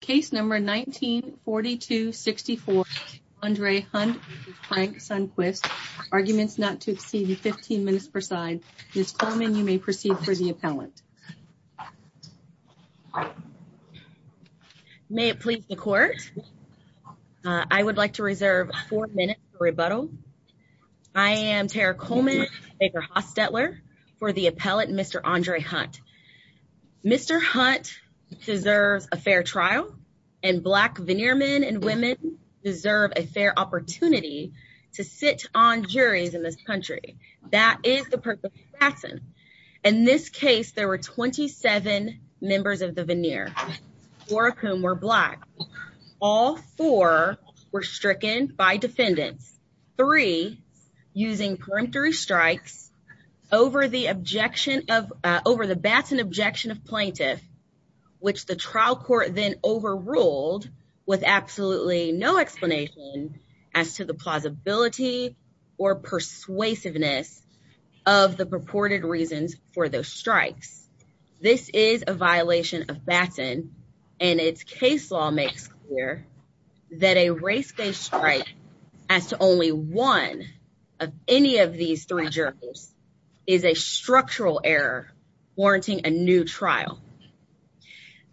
Case number 1942-64, Andre Hunt v. Frank Sunquist. Arguments not to exceed 15 minutes per side. Ms. Coleman, you may proceed for the appellant. May it please the court. I would like to reserve four minutes for rebuttal. I am Tara Coleman, Baker Hostetler, for the appellant, Mr. Andre Hunt. Mr. Hunt deserves a fair trial, and Black veneer men and women deserve a fair opportunity to sit on juries in this country. That is the purpose of the sentence. In this case, there were 27 members of the veneer, four of whom were Black. All four were stricken by defendants. Three, using peremptory strikes over the Batson objection of plaintiff, which the trial court then overruled with absolutely no explanation as to the plausibility or persuasiveness of the purported reasons for those strikes. This is a violation of Batson, and its case law makes clear that a race-based strike as to only one of any of these three jurors is a structural error warranting a new trial.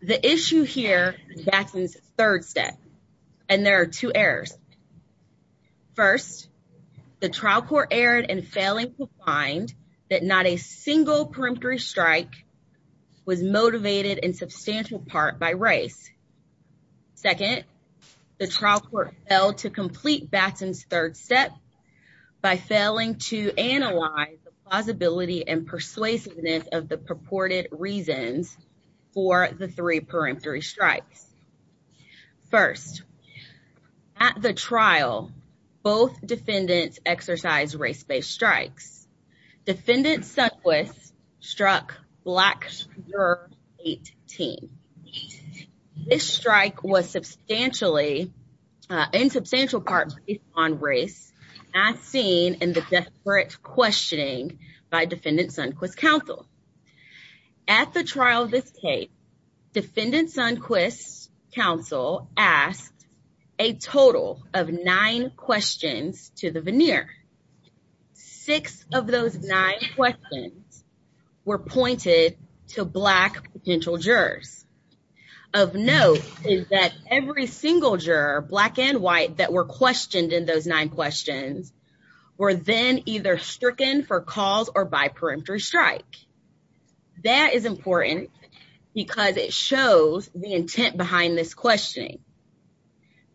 The issue here is Batson's third step, and there are two errors. First, the trial court erred in failing to find that not a single peremptory strike was motivated in substantial part by race. Second, the trial court failed to complete Batson's third step by failing to analyze the plausibility and persuasiveness of the purported reasons for the three peremptory strikes. First, at the trial, both defendants exercised race-based strikes. Defendant Sundquist struck Black juror 18. This strike was in substantial part based on race, as seen in the desperate questioning by Defendant Sundquist's counsel. At the trial of this case, Defendant Sundquist's counsel asked a total of nine questions to the jury. Six of those nine questions were pointed to Black potential jurors. Of note is that every single juror, Black and White, that were questioned in those nine questions were then either stricken for cause or by peremptory strike. That is important because it shows the intent behind this questioning.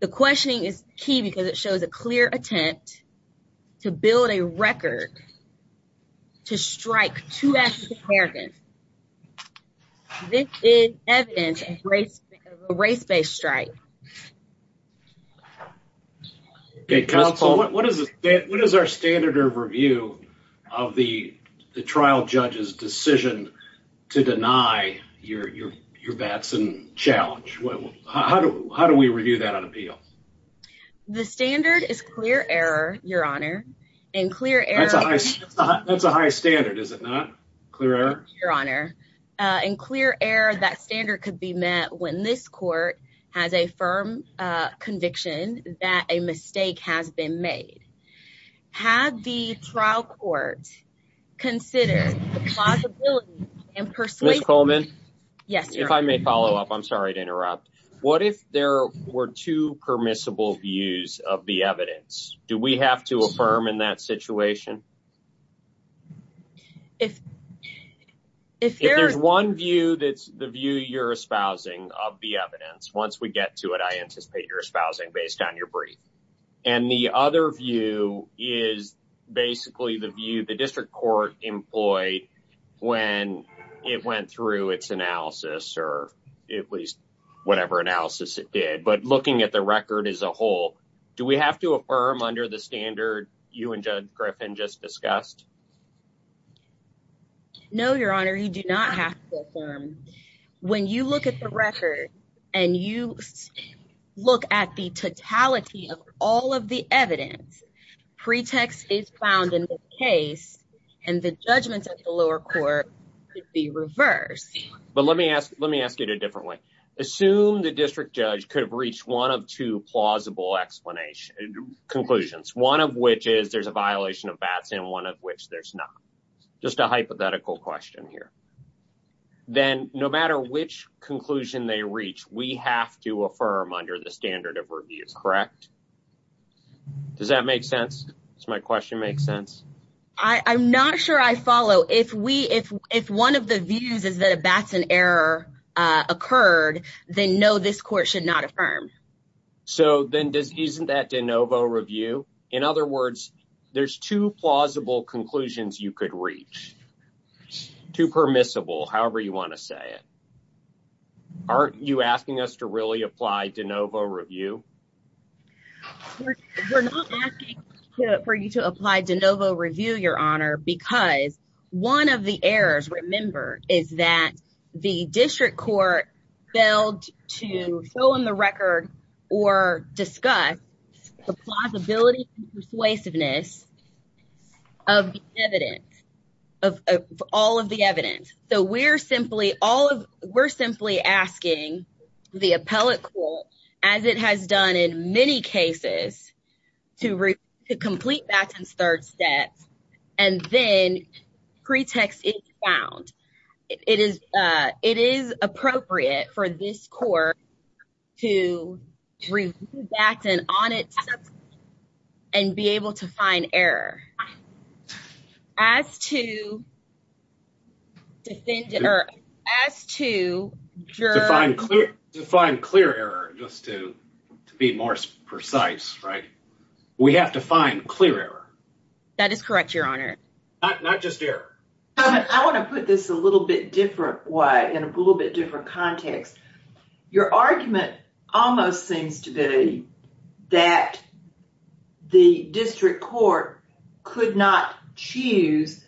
The questioning is key because it shows a clear attempt to build a record to strike two African-Americans. This is evidence of a race-based strike. What is our standard of review of the trial judge's decision to deny your Batson challenge? How do we review that on appeal? The standard is clear error, Your Honor. That's a high standard, is it not? Clear error? Your Honor. In clear error, that standard could be met when this court has a firm conviction that a mistake has been made. Had the trial court considered the plausibility and persuasion... Ms. Coleman? Yes, Your Honor. If I may follow up, I'm sorry to interrupt. What if there were two permissible views of the evidence? Do we have to affirm in that situation? If there's one view that's the view you're espousing of the evidence, once we get to it, I anticipate you're espousing based on your brief. The other view is basically the view the district court employed when it went through its analysis or at least whatever analysis it did. But looking at the record as a whole, do we have to affirm under the standard you and Judge Griffin just discussed? No, Your Honor. You do not have to affirm. When you look at the record and you look at the totality of all of the evidence, pretext is found in the case and the judgments of the lower court could be reversed. But let me ask it a different way. Assume the district judge could have reached one of two plausible conclusions, one of which is there's a violation of BATS and one of which there's not. Just a hypothetical question here. Then no matter which conclusion they reach, we have to affirm under the standard of review, correct? Does that make sense? Does my question make sense? I'm not sure I follow. If one of the views is that a BATS error occurred, then no, this court should not affirm. So then isn't that de novo review? In other words, there's two plausible conclusions you could reach, two permissible, however you want to say it. Aren't you asking us to really apply de novo review? We're not asking for you to apply de novo review, Your Honor, because one of the errors, remember, is that the district court failed to fill in the record or discuss the plausibility and persuasiveness of the evidence, of all of the evidence. So we're simply asking the appellate court, as it has done in many cases, to complete BATS' third step, and then pretext is found. It is appropriate for this court to review BATS on itself and be able to find error. As to... To find clear error, just to be more precise, right? We have to find clear error. That is correct, Your Honor. Not just error. I want to put this a little bit different way, in a little bit different context. Your argument almost seems to be that the district court could not choose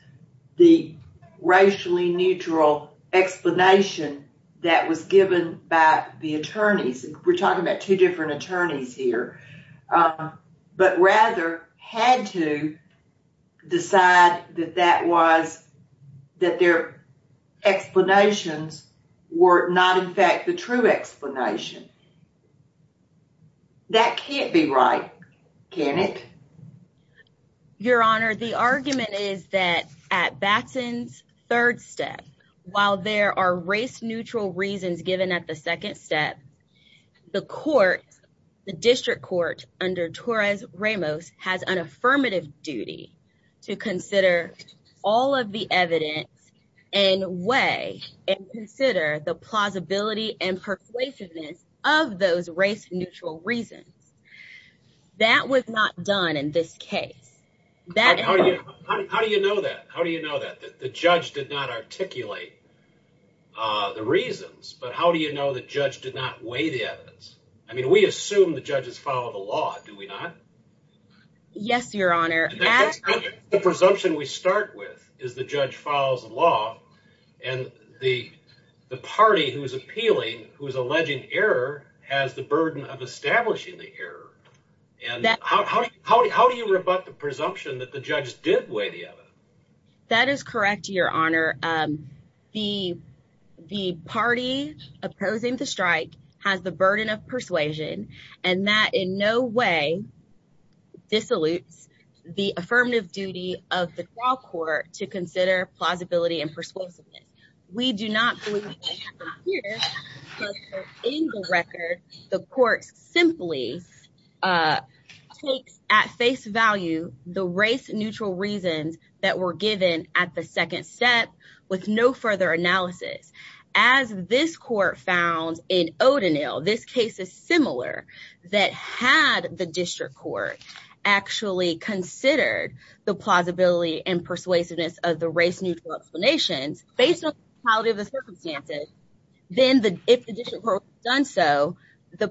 the racially neutral explanation that was given by the attorneys. We're talking about two different the true explanation. That can't be right, can it? Your Honor, the argument is that at BATS' third step, while there are race-neutral reasons given at the second step, the court, the district court under Torres Ramos, has an affirmative duty to consider all of the evidence and weigh and consider the plausibility and persuasiveness of those race-neutral reasons. That was not done in this case. How do you know that? How do you know that? The judge did not articulate the reasons, but how do you know the judge did not weigh the evidence? I mean, we assume the judges follow the law, do we not? Yes, Your Honor. The presumption we start with is the judge follows the law and the party who is appealing, who is alleging error, has the burden of establishing the error. How do you rebut the presumption that the judge did weigh the evidence? That is correct, Your Honor. The party opposing the strike has the burden of persuasion and that in no way dissolutes the affirmative duty of the trial court to consider plausibility and persuasiveness. We do not believe that happened here because in the record, the court simply takes at face value the race-neutral reasons that were given at the second step with no further analysis. As this court found in O'Donnell, this case is similar, that had the district court actually considered the plausibility and persuasiveness of the race-neutral explanations based on the totality of the circumstances, then if the district court had done so, the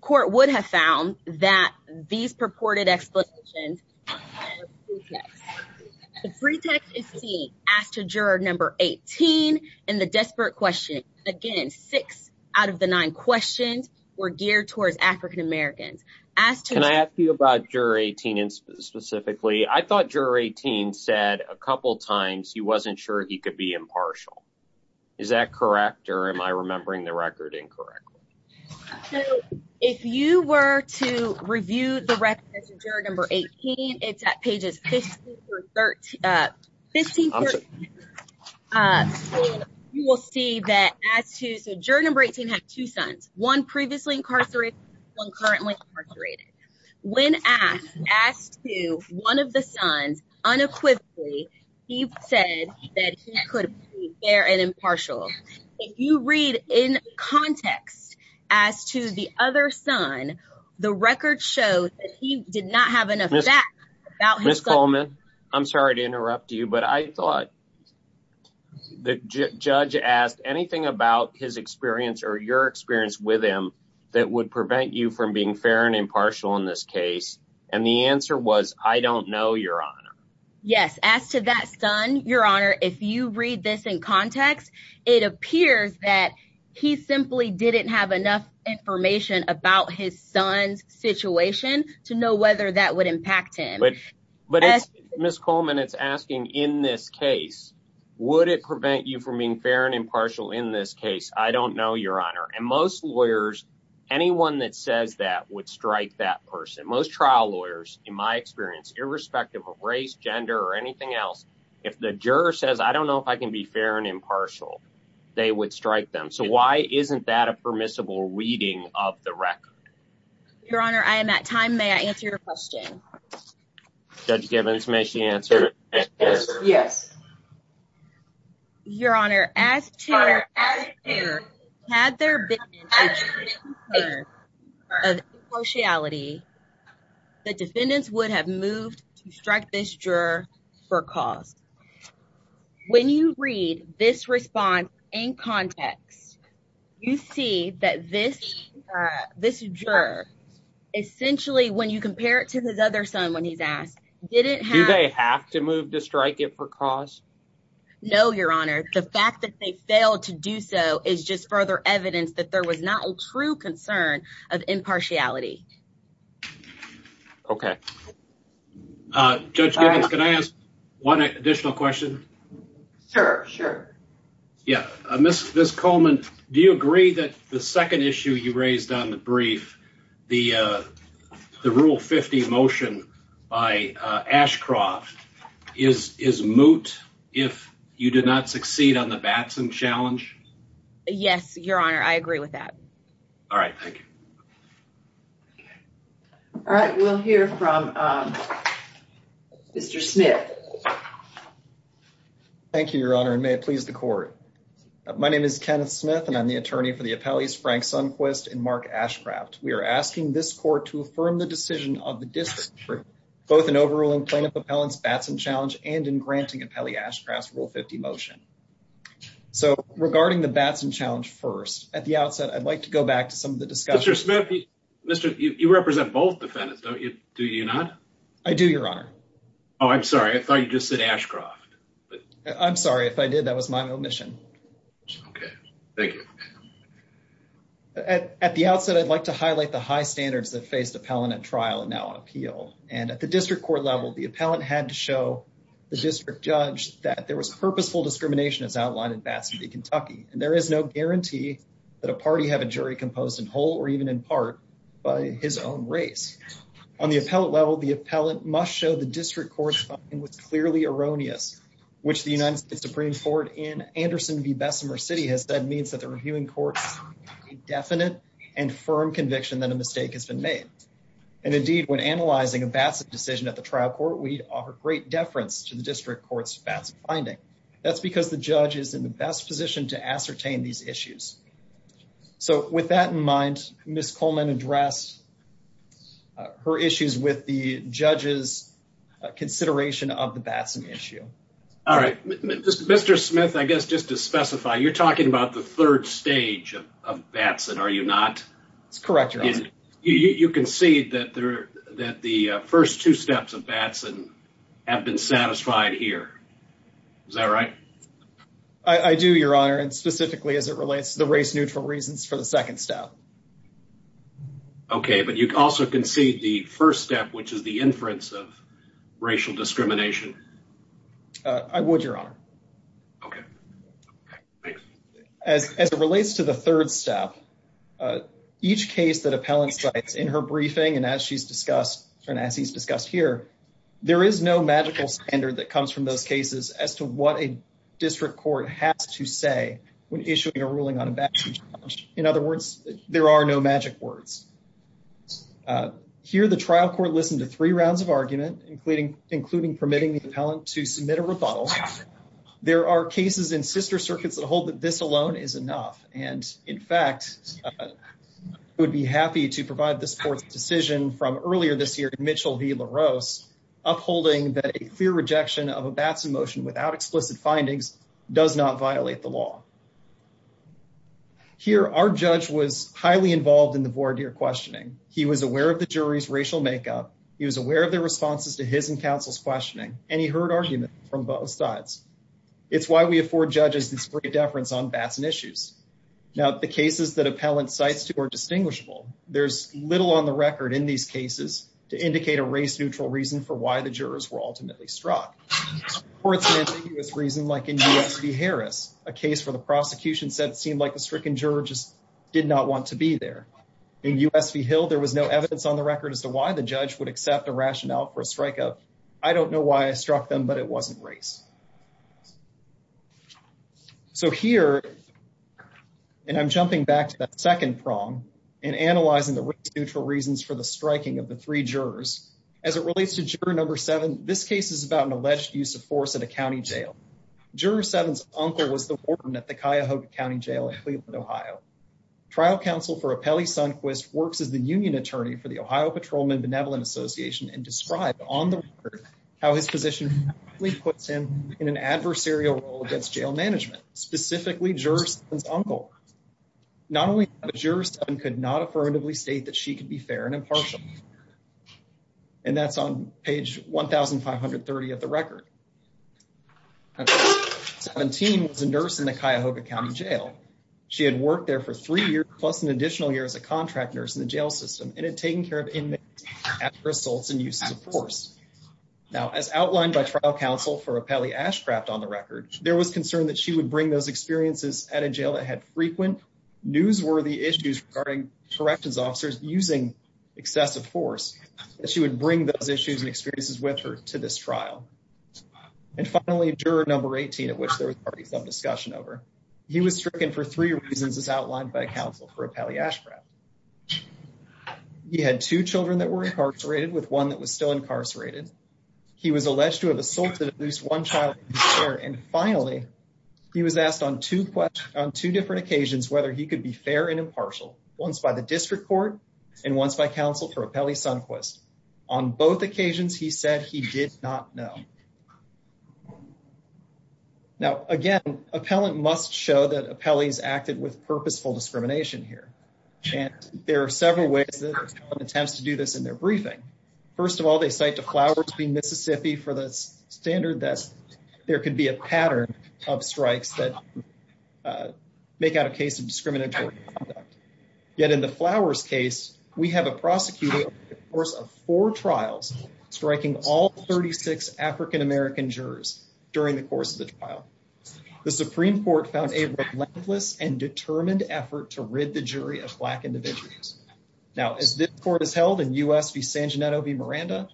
court would have found that these purported explanations are pretexts. The pretext is seen as to juror number 18 and the desperate question. Again, six out of the nine questions were geared towards African-Americans. Can I ask you about juror 18 specifically? I thought juror 18 said a couple times he wasn't sure he could be impartial. Is that correct or am I remembering the record incorrectly? So, if you were to review the record as juror number 18, it's at pages 15 through 13. You will see that juror number 18 had two sons, one previously incarcerated, one currently incarcerated. When asked to one of the sons unequivocally, he said that he could be fair and impartial. If you read in context as to the other son, the record shows that he did not have enough facts about his son. Ms. Coleman, I'm sorry to interrupt you, but I thought the judge asked anything about his experience or your experience with him that would prevent you from being fair and impartial in this case, and the answer was, I don't know, Your Honor. Yes. As to that son, Your Honor, if you read this in context, it appears that he simply didn't have enough information about his son's situation to know whether that would impact him. Ms. Coleman, it's asking in this case, would it prevent you from being fair and impartial in this case? I don't know, Your Honor. And most lawyers, in my experience, irrespective of race, gender, or anything else, if the juror says, I don't know if I can be fair and impartial, they would strike them. So why isn't that a permissible reading of the record? Your Honor, I am at time. May I answer your question? Judge Gibbons, may she answer? Yes. Your Honor, as to whether or not, had there been a change of impartiality, the defendants would have moved to strike this juror for cause. When you read this response in context, you see that this juror, essentially, when you compare it to his other son when he's No, Your Honor. The fact that they failed to do so is just further evidence that there was not a true concern of impartiality. Okay. Judge Gibbons, can I ask one additional question? Sure. Sure. Yeah. Ms. Coleman, do you agree that the second issue you raised on the brief, the Rule 50 motion by Ashcroft is moot if you did not succeed on the Batson challenge? Yes, Your Honor. I agree with that. All right. Thank you. All right. We'll hear from Mr. Smith. Thank you, Your Honor, and may it please the court. My name is Kenneth Smith, and I'm the attorney for the appellees Frank Sunquist and Mark Ashcroft. We are asking this court to affirm the decision of the district for both an overruling plaintiff appellant's Batson challenge and in granting appellee Ashcroft's Rule 50 motion. So, regarding the Batson challenge first, at the outset, I'd like to go back to some of the discussions. Mr. Smith, you represent both defendants, don't you? Do you not? I do, Your Honor. Oh, I'm sorry. I thought you just said Ashcroft. I'm sorry. If I did, that was my omission. Okay. Thank you. At the outset, I'd like to highlight the high standards that faced appellant at trial and now on appeal. And at the district court level, the appellant had to show the district judge that there was purposeful discrimination as outlined in Batson v. Kentucky, and there is no guarantee that a party have a jury composed in whole or even in part by his own race. On the appellant level, the appellant must show the district court's finding was clearly erroneous, which the United States Supreme Court in Anderson v. Bessemer City has said means that the reviewing court's indefinite and firm conviction that a mistake has been made. And indeed, when analyzing a Batson decision at the trial court, we offer great deference to the district court's Batson finding. That's because the judge is in the best position to ascertain these issues. So, with that in mind, Ms. Coleman addressed her issues with the judge's consideration of the Batson issue. All right, Mr. Smith, I guess just to specify, you're talking about the third stage of Batson, are you not? That's correct, Your Honor. You concede that the first two steps of Batson have been satisfied here. Is that right? I do, Your Honor, and specifically as it relates to the race-neutral reasons for the second step. Okay, but you also concede the first step, which is the inference of racial discrimination. I would, Your Honor. Okay, thanks. As it relates to the third step, each case that appellant cites in her briefing and as she's discussed and as he's discussed here, there is no magical standard that comes from those cases as to what a district court has to say when issuing a ruling on a Batson charge. In other words, there are no magic words. Here, the trial court listened to three rounds of argument, including permitting the appellant to submit a rebuttal. There are cases in sister circuits that hold that this alone is enough, and in fact, I would be happy to provide this court's decision from earlier this year in Mitchell v. LaRose, upholding that a clear rejection of a Batson motion without explicit findings does not violate the law. Here, our judge was highly involved in the voir dire questioning. He was aware of the jury's racial makeup. He was aware of their responses to his and counsel's questioning, and he heard arguments from both sides. It's why we afford judges this great deference on Batson issues. Now, the cases that appellant cites to are distinguishable. There's little on the record in these cases to indicate a race-neutral reason for why the jurors were ultimately struck. Courts have ambiguous reasons, like in U.S. v. Harris, a case where the prosecution said it seemed like the stricken juror just did not want to be there. In U.S. v. Hill, there was no evidence on the record as to why the judge would accept a rationale for a strike-up. I don't know why I struck them, but it wasn't race. So here, and I'm jumping back to that second prong and analyzing the race-neutral reasons for the striking of the three jurors, as it relates to juror number seven, this case is about an alleged use of force at a county jail. Juror seven's uncle was the warden at the Cuyahoga County Jail in Cleveland, Ohio. Trial counsel for Apelli Sunquist works as the union attorney for the Ohio Patrolman Benevolent Association and described on the record how his position puts him in an adversarial role against jail management, specifically juror seven's uncle. Not only that, juror seven could not affirmatively state that she could be fair and impartial. And that's on page 1,530 of the record. 17 was a nurse in the Cuyahoga County Jail. She had worked there for three years, plus an additional year as a contract nurse in the jail system, and had taken care of inmates after assaults and uses of force. Now, as outlined by trial counsel for Apelli Ashcraft on the record, there was concern that she would bring those experiences at a jail that had frequent newsworthy issues regarding corrections officers using excessive force, that she would bring those issues and experiences with her to this trial. And finally, juror number 18, at which there was already some discussion over, he was stricken for three reasons as outlined by counsel for Apelli Ashcraft. He had two children that were incarcerated, with one that was still incarcerated. He was alleged to have assaulted at least one child. And finally, he was asked on two different occasions whether he could be fair and impartial, once by the district court, and once by counsel for Apelli Sundquist. On both occasions, he said he did not know. Now, again, appellant must show that Apelli's acted with purposeful discrimination here. And there are several ways that attempts to do this in their briefing. First of all, they cite to Flowers v. Mississippi for the standard that there could be a pattern of strikes that make out a case of discriminatory conduct. Yet in the Flowers case, we have a prosecutor over the course of four trials, striking all 36 African American jurors during the course of the trial. The Supreme Court found a relentless and determined effort to rid the jury of black individuals. Now, as this court has held in U.S. v. San Gennaro v. Miranda,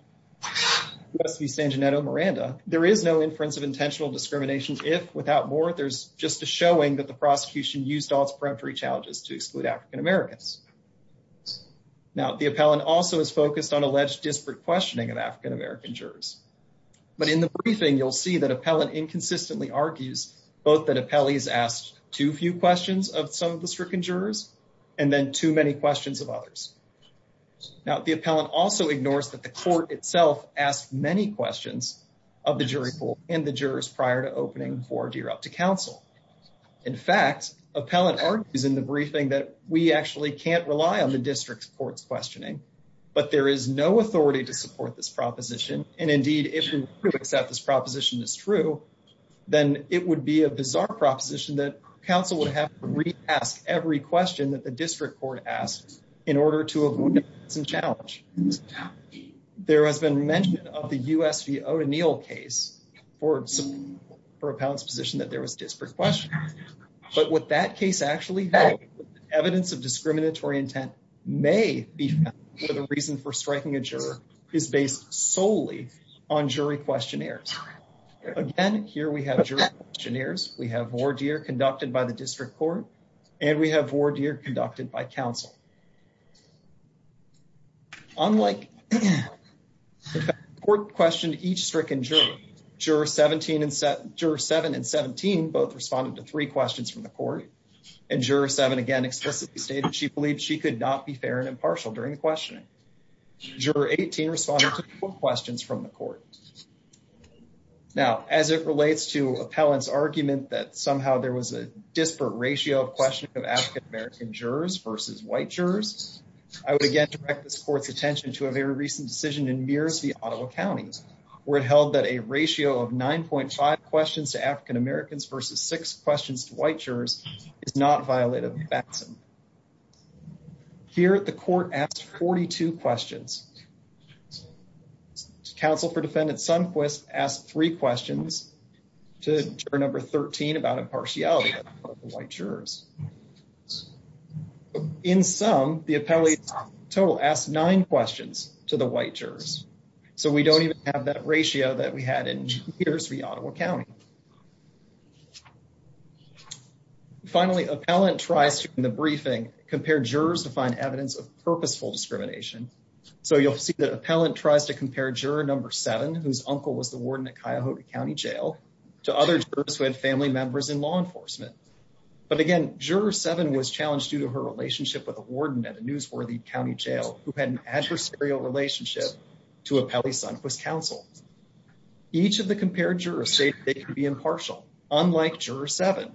U.S. v. San Gennaro Miranda, there is no inference of intentional discrimination. If, without more, there's just a showing that the prosecution used all its peremptory challenges to exclude African Americans. Now, the appellant also is focused on alleged disparate questioning of African American jurors. But in the briefing, you'll see that appellant inconsistently argues both that Apelli's asked too few questions of some of the stricken jurors and then too many questions of others. Now, the appellant also ignores that the court itself asked many questions of the jury pool and the jurors prior to opening for a deer up to counsel. In fact, appellant argues in the briefing that we actually can't rely on the district's court's questioning, but there is no authority to support this proposition. And indeed, if we do accept this proposition is true, then it would be a bizarre proposition that counsel would have to re-ask every question that the district court asks in order to avoid some challenge. There has been mention of the U.S. v. O'Donnell case for appellant's position that there was disparate questioning. But what that case actually held, evidence of discriminatory intent may be found where the reason for striking a juror is based solely on jury questionnaires. Again, here we have jury questionnaires, we have voir dire conducted by the district court, and we have voir dire conducted by counsel. Unlike, in fact, the court questioned each stricken juror. Jurors 7 and 17 both responded to three questions from the court. And juror 7 again explicitly stated she believed she could not be fair and impartial during the questioning. Juror 18 responded to four questions from the court. Now, as it relates to appellant's argument that somehow there was a disparate ratio of questioning of African-American jurors versus white jurors, I would again direct this court's attention to a very recent decision in Mears v. Ottawa County, where it held that a ratio of 9.5 questions to African-Americans versus six questions to white jurors is not violated by Batson. Here, the court asked 42 questions. Counsel for defendant Sundquist asked three questions to juror number 13 about impartiality of white jurors. In sum, the appellate total asked nine questions to the white jurors. So, we don't even have that ratio that we had in Mears v. Ottawa County. Finally, appellant tries to, in the briefing, compare jurors to find evidence of purposeful discrimination. So, you'll see that appellant tries to compare juror number seven, whose uncle was the warden at Cuyahoga County Jail, to other jurors who had family members in law enforcement. But again, juror seven was challenged due to her relationship with a warden at a newsworthy county jail who had an adversarial relationship to appellee Sundquist's counsel. Each of the compared jurors stated they could be impartial, unlike juror seven.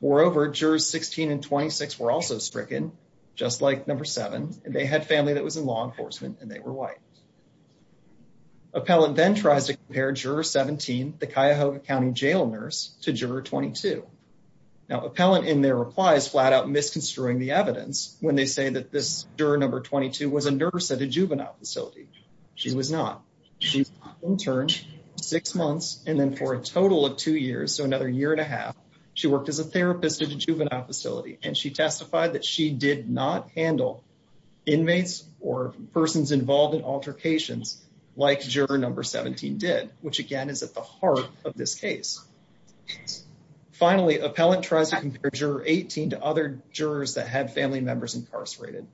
Moreover, jurors 16 and 26 were also stricken, just like number seven, and they had family that was in law enforcement and were white. Appellant then tries to compare juror 17, the Cuyahoga County Jail nurse, to juror 22. Now, appellant, in their replies, flat out misconstruing the evidence when they say that this juror number 22 was a nurse at a juvenile facility. She was not. She was an intern for six months and then for a total of two years, so another year and a half, she worked as a therapist at a juvenile in altercations, like juror number 17 did, which again is at the heart of this case. Finally, appellant tries to compare juror 18 to other jurors that had family members incarcerated.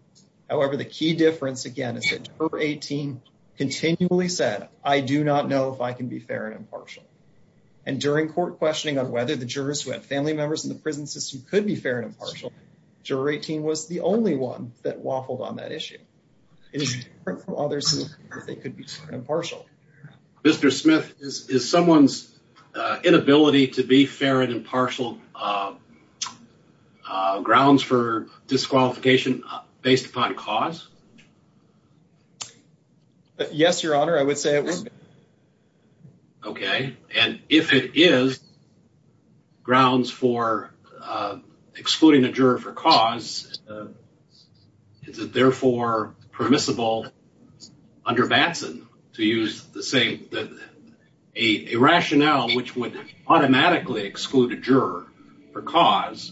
However, the key difference, again, is that juror 18 continually said, I do not know if I can be fair and impartial. And during court questioning on whether the jurors who had family members in the prison system could be fair and impartial, juror 18 was the only one that waffled on that if they could be fair and impartial. Mr. Smith, is someone's inability to be fair and impartial grounds for disqualification based upon cause? Yes, your honor, I would say it was. Okay, and if it is grounds for under Batson to use the same, a rationale which would automatically exclude a juror for cause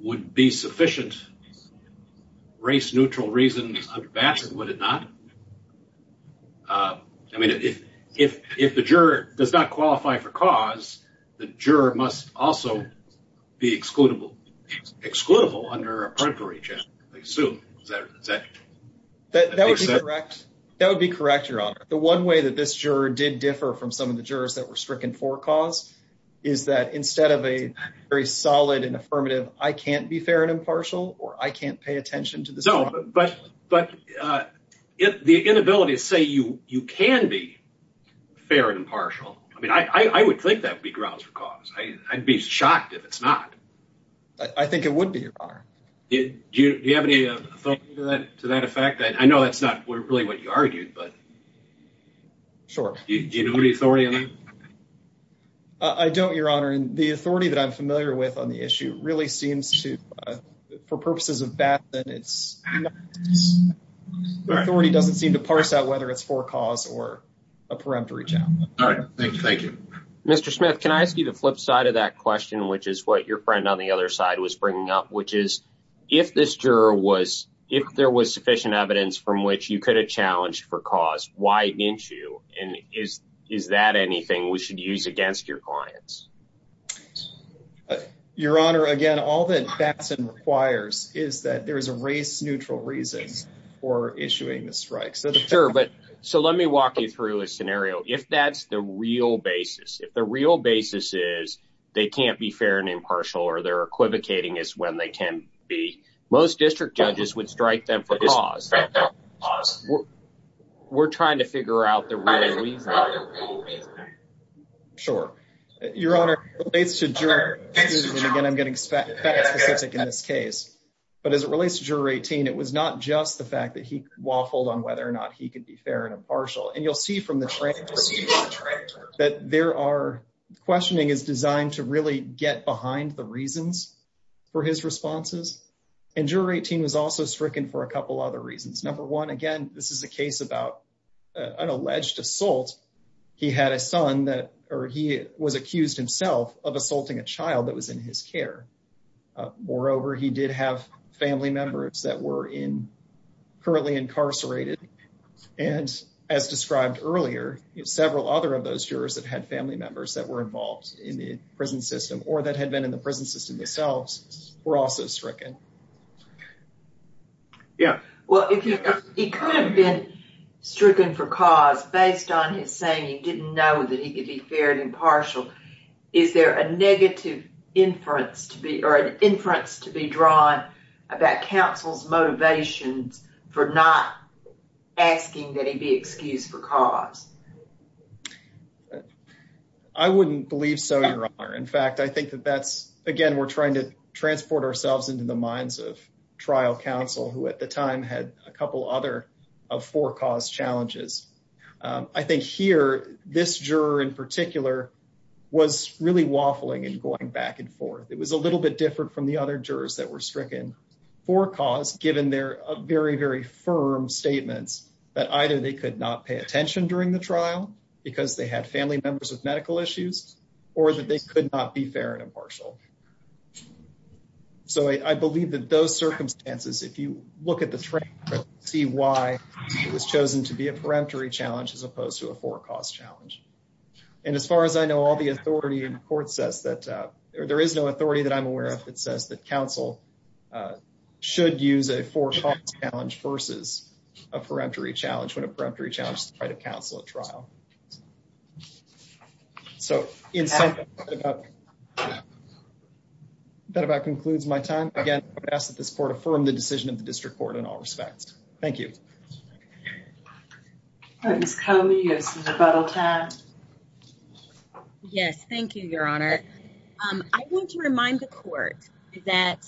would be sufficient race neutral reasons under Batson, would it not? I mean, if the juror does not qualify for cause, the juror must also be excludable excludable under a periphery check, I assume. That would be correct. That would be correct, your honor. The one way that this juror did differ from some of the jurors that were stricken for cause is that instead of a very solid and affirmative, I can't be fair and impartial, or I can't pay attention to this. But the inability to say you can be fair and impartial, I mean, I would think that would be grounds for cause. I'd be shocked if it's not. I think it would be, your honor. Do you have any authority to that effect? I know that's not really what you argued, but. Sure. Do you have any authority on that? I don't, your honor, and the authority that I'm familiar with on the issue really seems to, for purposes of Batson, the authority doesn't seem to parse out whether it's for cause or a periphery check. All right. Thank you. Thank you, Mr. Smith. Can I ask you the flip side of that question, which is what your friend on the other side was bringing up, which is if this juror was, if there was sufficient evidence from which you could have challenged for cause, why didn't you? And is that anything we should use against your clients? Your honor, again, all that Batson requires is that there is a race-neutral reason for issuing the strikes. Sure, but, so let me walk you through a scenario. If that's the real basis, if the real basis is they can't be fair and impartial or they're equivocating as when they can be, most district judges would strike them for cause. We're trying to figure out the real reason. Sure. Your honor, it relates to juror, and again, I'm getting specific in this case, but as it relates to juror 18, it was not just the fact that he waffled on whether or not he could be fair and impartial. And you'll see from the transcript that there are, questioning is designed to really get behind the reasons for his responses. And juror 18 was also stricken for a couple other reasons. Number one, again, this is a case about an alleged assault. He had a son that, or he was accused himself of assaulting a child that was in his care. Moreover, he did have family members that were in, currently incarcerated. And as described earlier, several other of those jurors that had family members that were involved in the prison system or that had been in the prison system themselves were also stricken. Yeah. Well, he could have been fair and impartial. Is there a negative inference to be, or an inference to be drawn about counsel's motivations for not asking that he be excused for cause? I wouldn't believe so, your honor. In fact, I think that that's, again, we're trying to transport ourselves into the minds of trial counsel, who at the time had a couple other of four cause challenges. I think here, this juror in particular was really waffling and going back and forth. It was a little bit different from the other jurors that were stricken for cause, given their very, very firm statements that either they could not pay attention during the trial because they had family members with medical issues or that they could not be fair and impartial. So, I believe that those circumstances, if you look at the frame, see why he was chosen to be a peremptory challenge as opposed to a four cause challenge. And as far as I know, all the authority in court says that, or there is no authority that I'm aware of that says that counsel should use a four cause challenge versus a peremptory challenge when a peremptory challenge is to try to counsel a trial. So, that about concludes my time. Again, I would ask that this court affirm the decision of the district court in all respects. Thank you. Ms. Comey, you have some rebuttal time. Yes, thank you, your honor. I want to remind the court that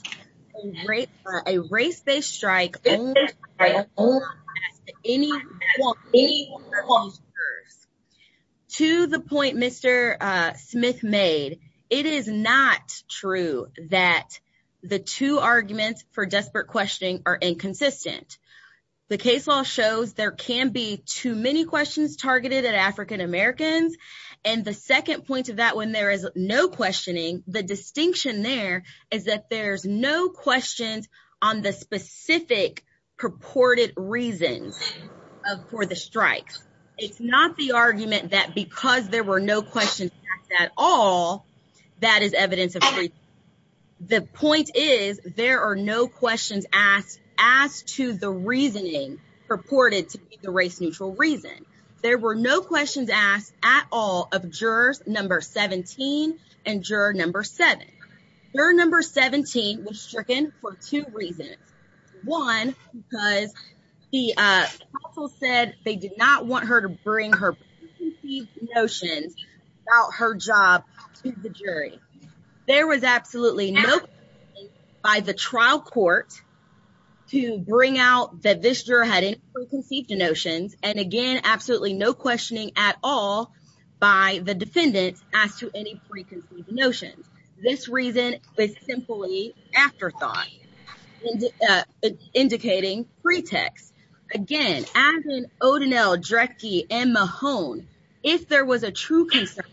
a race-based strike does not pass to any one of these jurors. To the point Mr. Smith made, it is not true that the two arguments for desperate questioning are inconsistent. The case law shows there can be too many questions targeted at African Americans. And the second point to that, when there is no distinction there, is that there's no questions on the specific purported reasons for the strikes. It's not the argument that because there were no questions asked at all, that is evidence of the point is there are no questions asked to the reasoning purported to be the race-neutral reason. There were no questions asked at all of jurors number 17 and juror number 7. Juror number 17 was stricken for two reasons. One, because the counsel said they did not want her to bring her notions about her job to the jury. There was absolutely no by the trial court to bring out that this juror had preconceived notions. And again, absolutely no questioning at all by the defendant as to any preconceived notions. This reason is simply afterthought indicating pretext. Again, as in O'Donnell, Drecke, and Mahone, if there was a true concern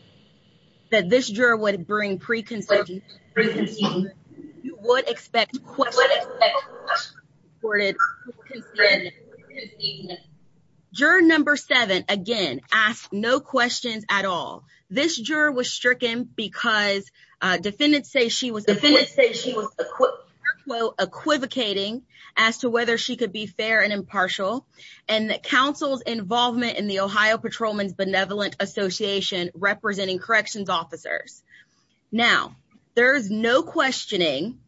that this juror would bring preconceived notions, you would expect questions. Juror number 7, again, asked no questions at all. This juror was stricken because defendants say she was quote, quote, equivocating as to whether she could be fair and impartial. And that counsel's involvement in the Ohio Patrolman's Benevolent Association representing corrections officers. Now, there's no questioning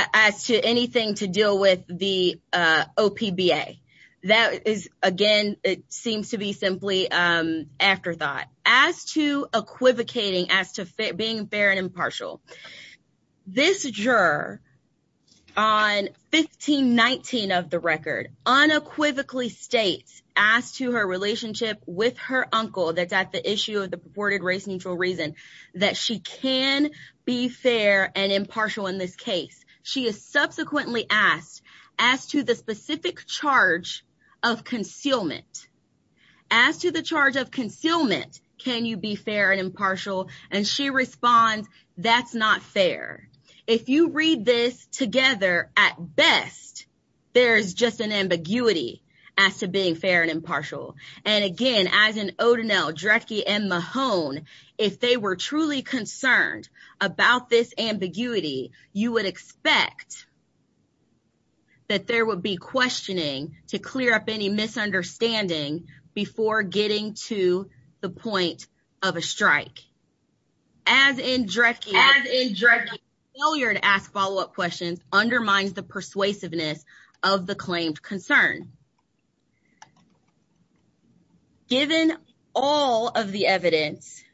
as to anything to deal with the OPBA. That is, again, it seems to be simply afterthought. As to 1519 of the record, unequivocally states, as to her relationship with her uncle, that's at the issue of the purported race neutral reason, that she can be fair and impartial in this case. She is subsequently asked, as to the specific charge of concealment, as to the charge of concealment, can you be fair and impartial? And she responds, that's not fair. If you read this together, at best, there's just an ambiguity as to being fair and impartial. And again, as in O'Donnell, Drecke, and Mahone, if they were truly concerned about this ambiguity, you would expect that there would be questioning to clear up any misunderstanding before getting to the point of a strike. As in Drecke, failure to ask follow-up questions undermines the persuasiveness of the claimed concern. Given all of the evidence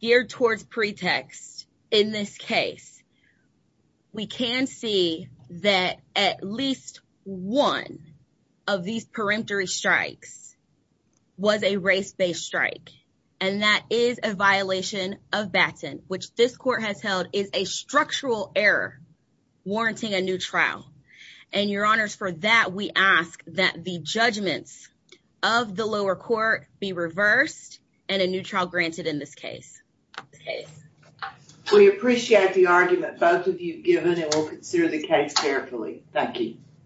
geared towards pretext in this case, we can see that at least one of these peremptory strikes was a race-based strike. And that is a violation of baton, which this court has held is a structural error, warranting a new trial. And your honors, for that, we ask that the judgments of the lower court be reversed and a new trial granted in this case. We appreciate the argument both of you have given, and we'll consider the case carefully. Thank you.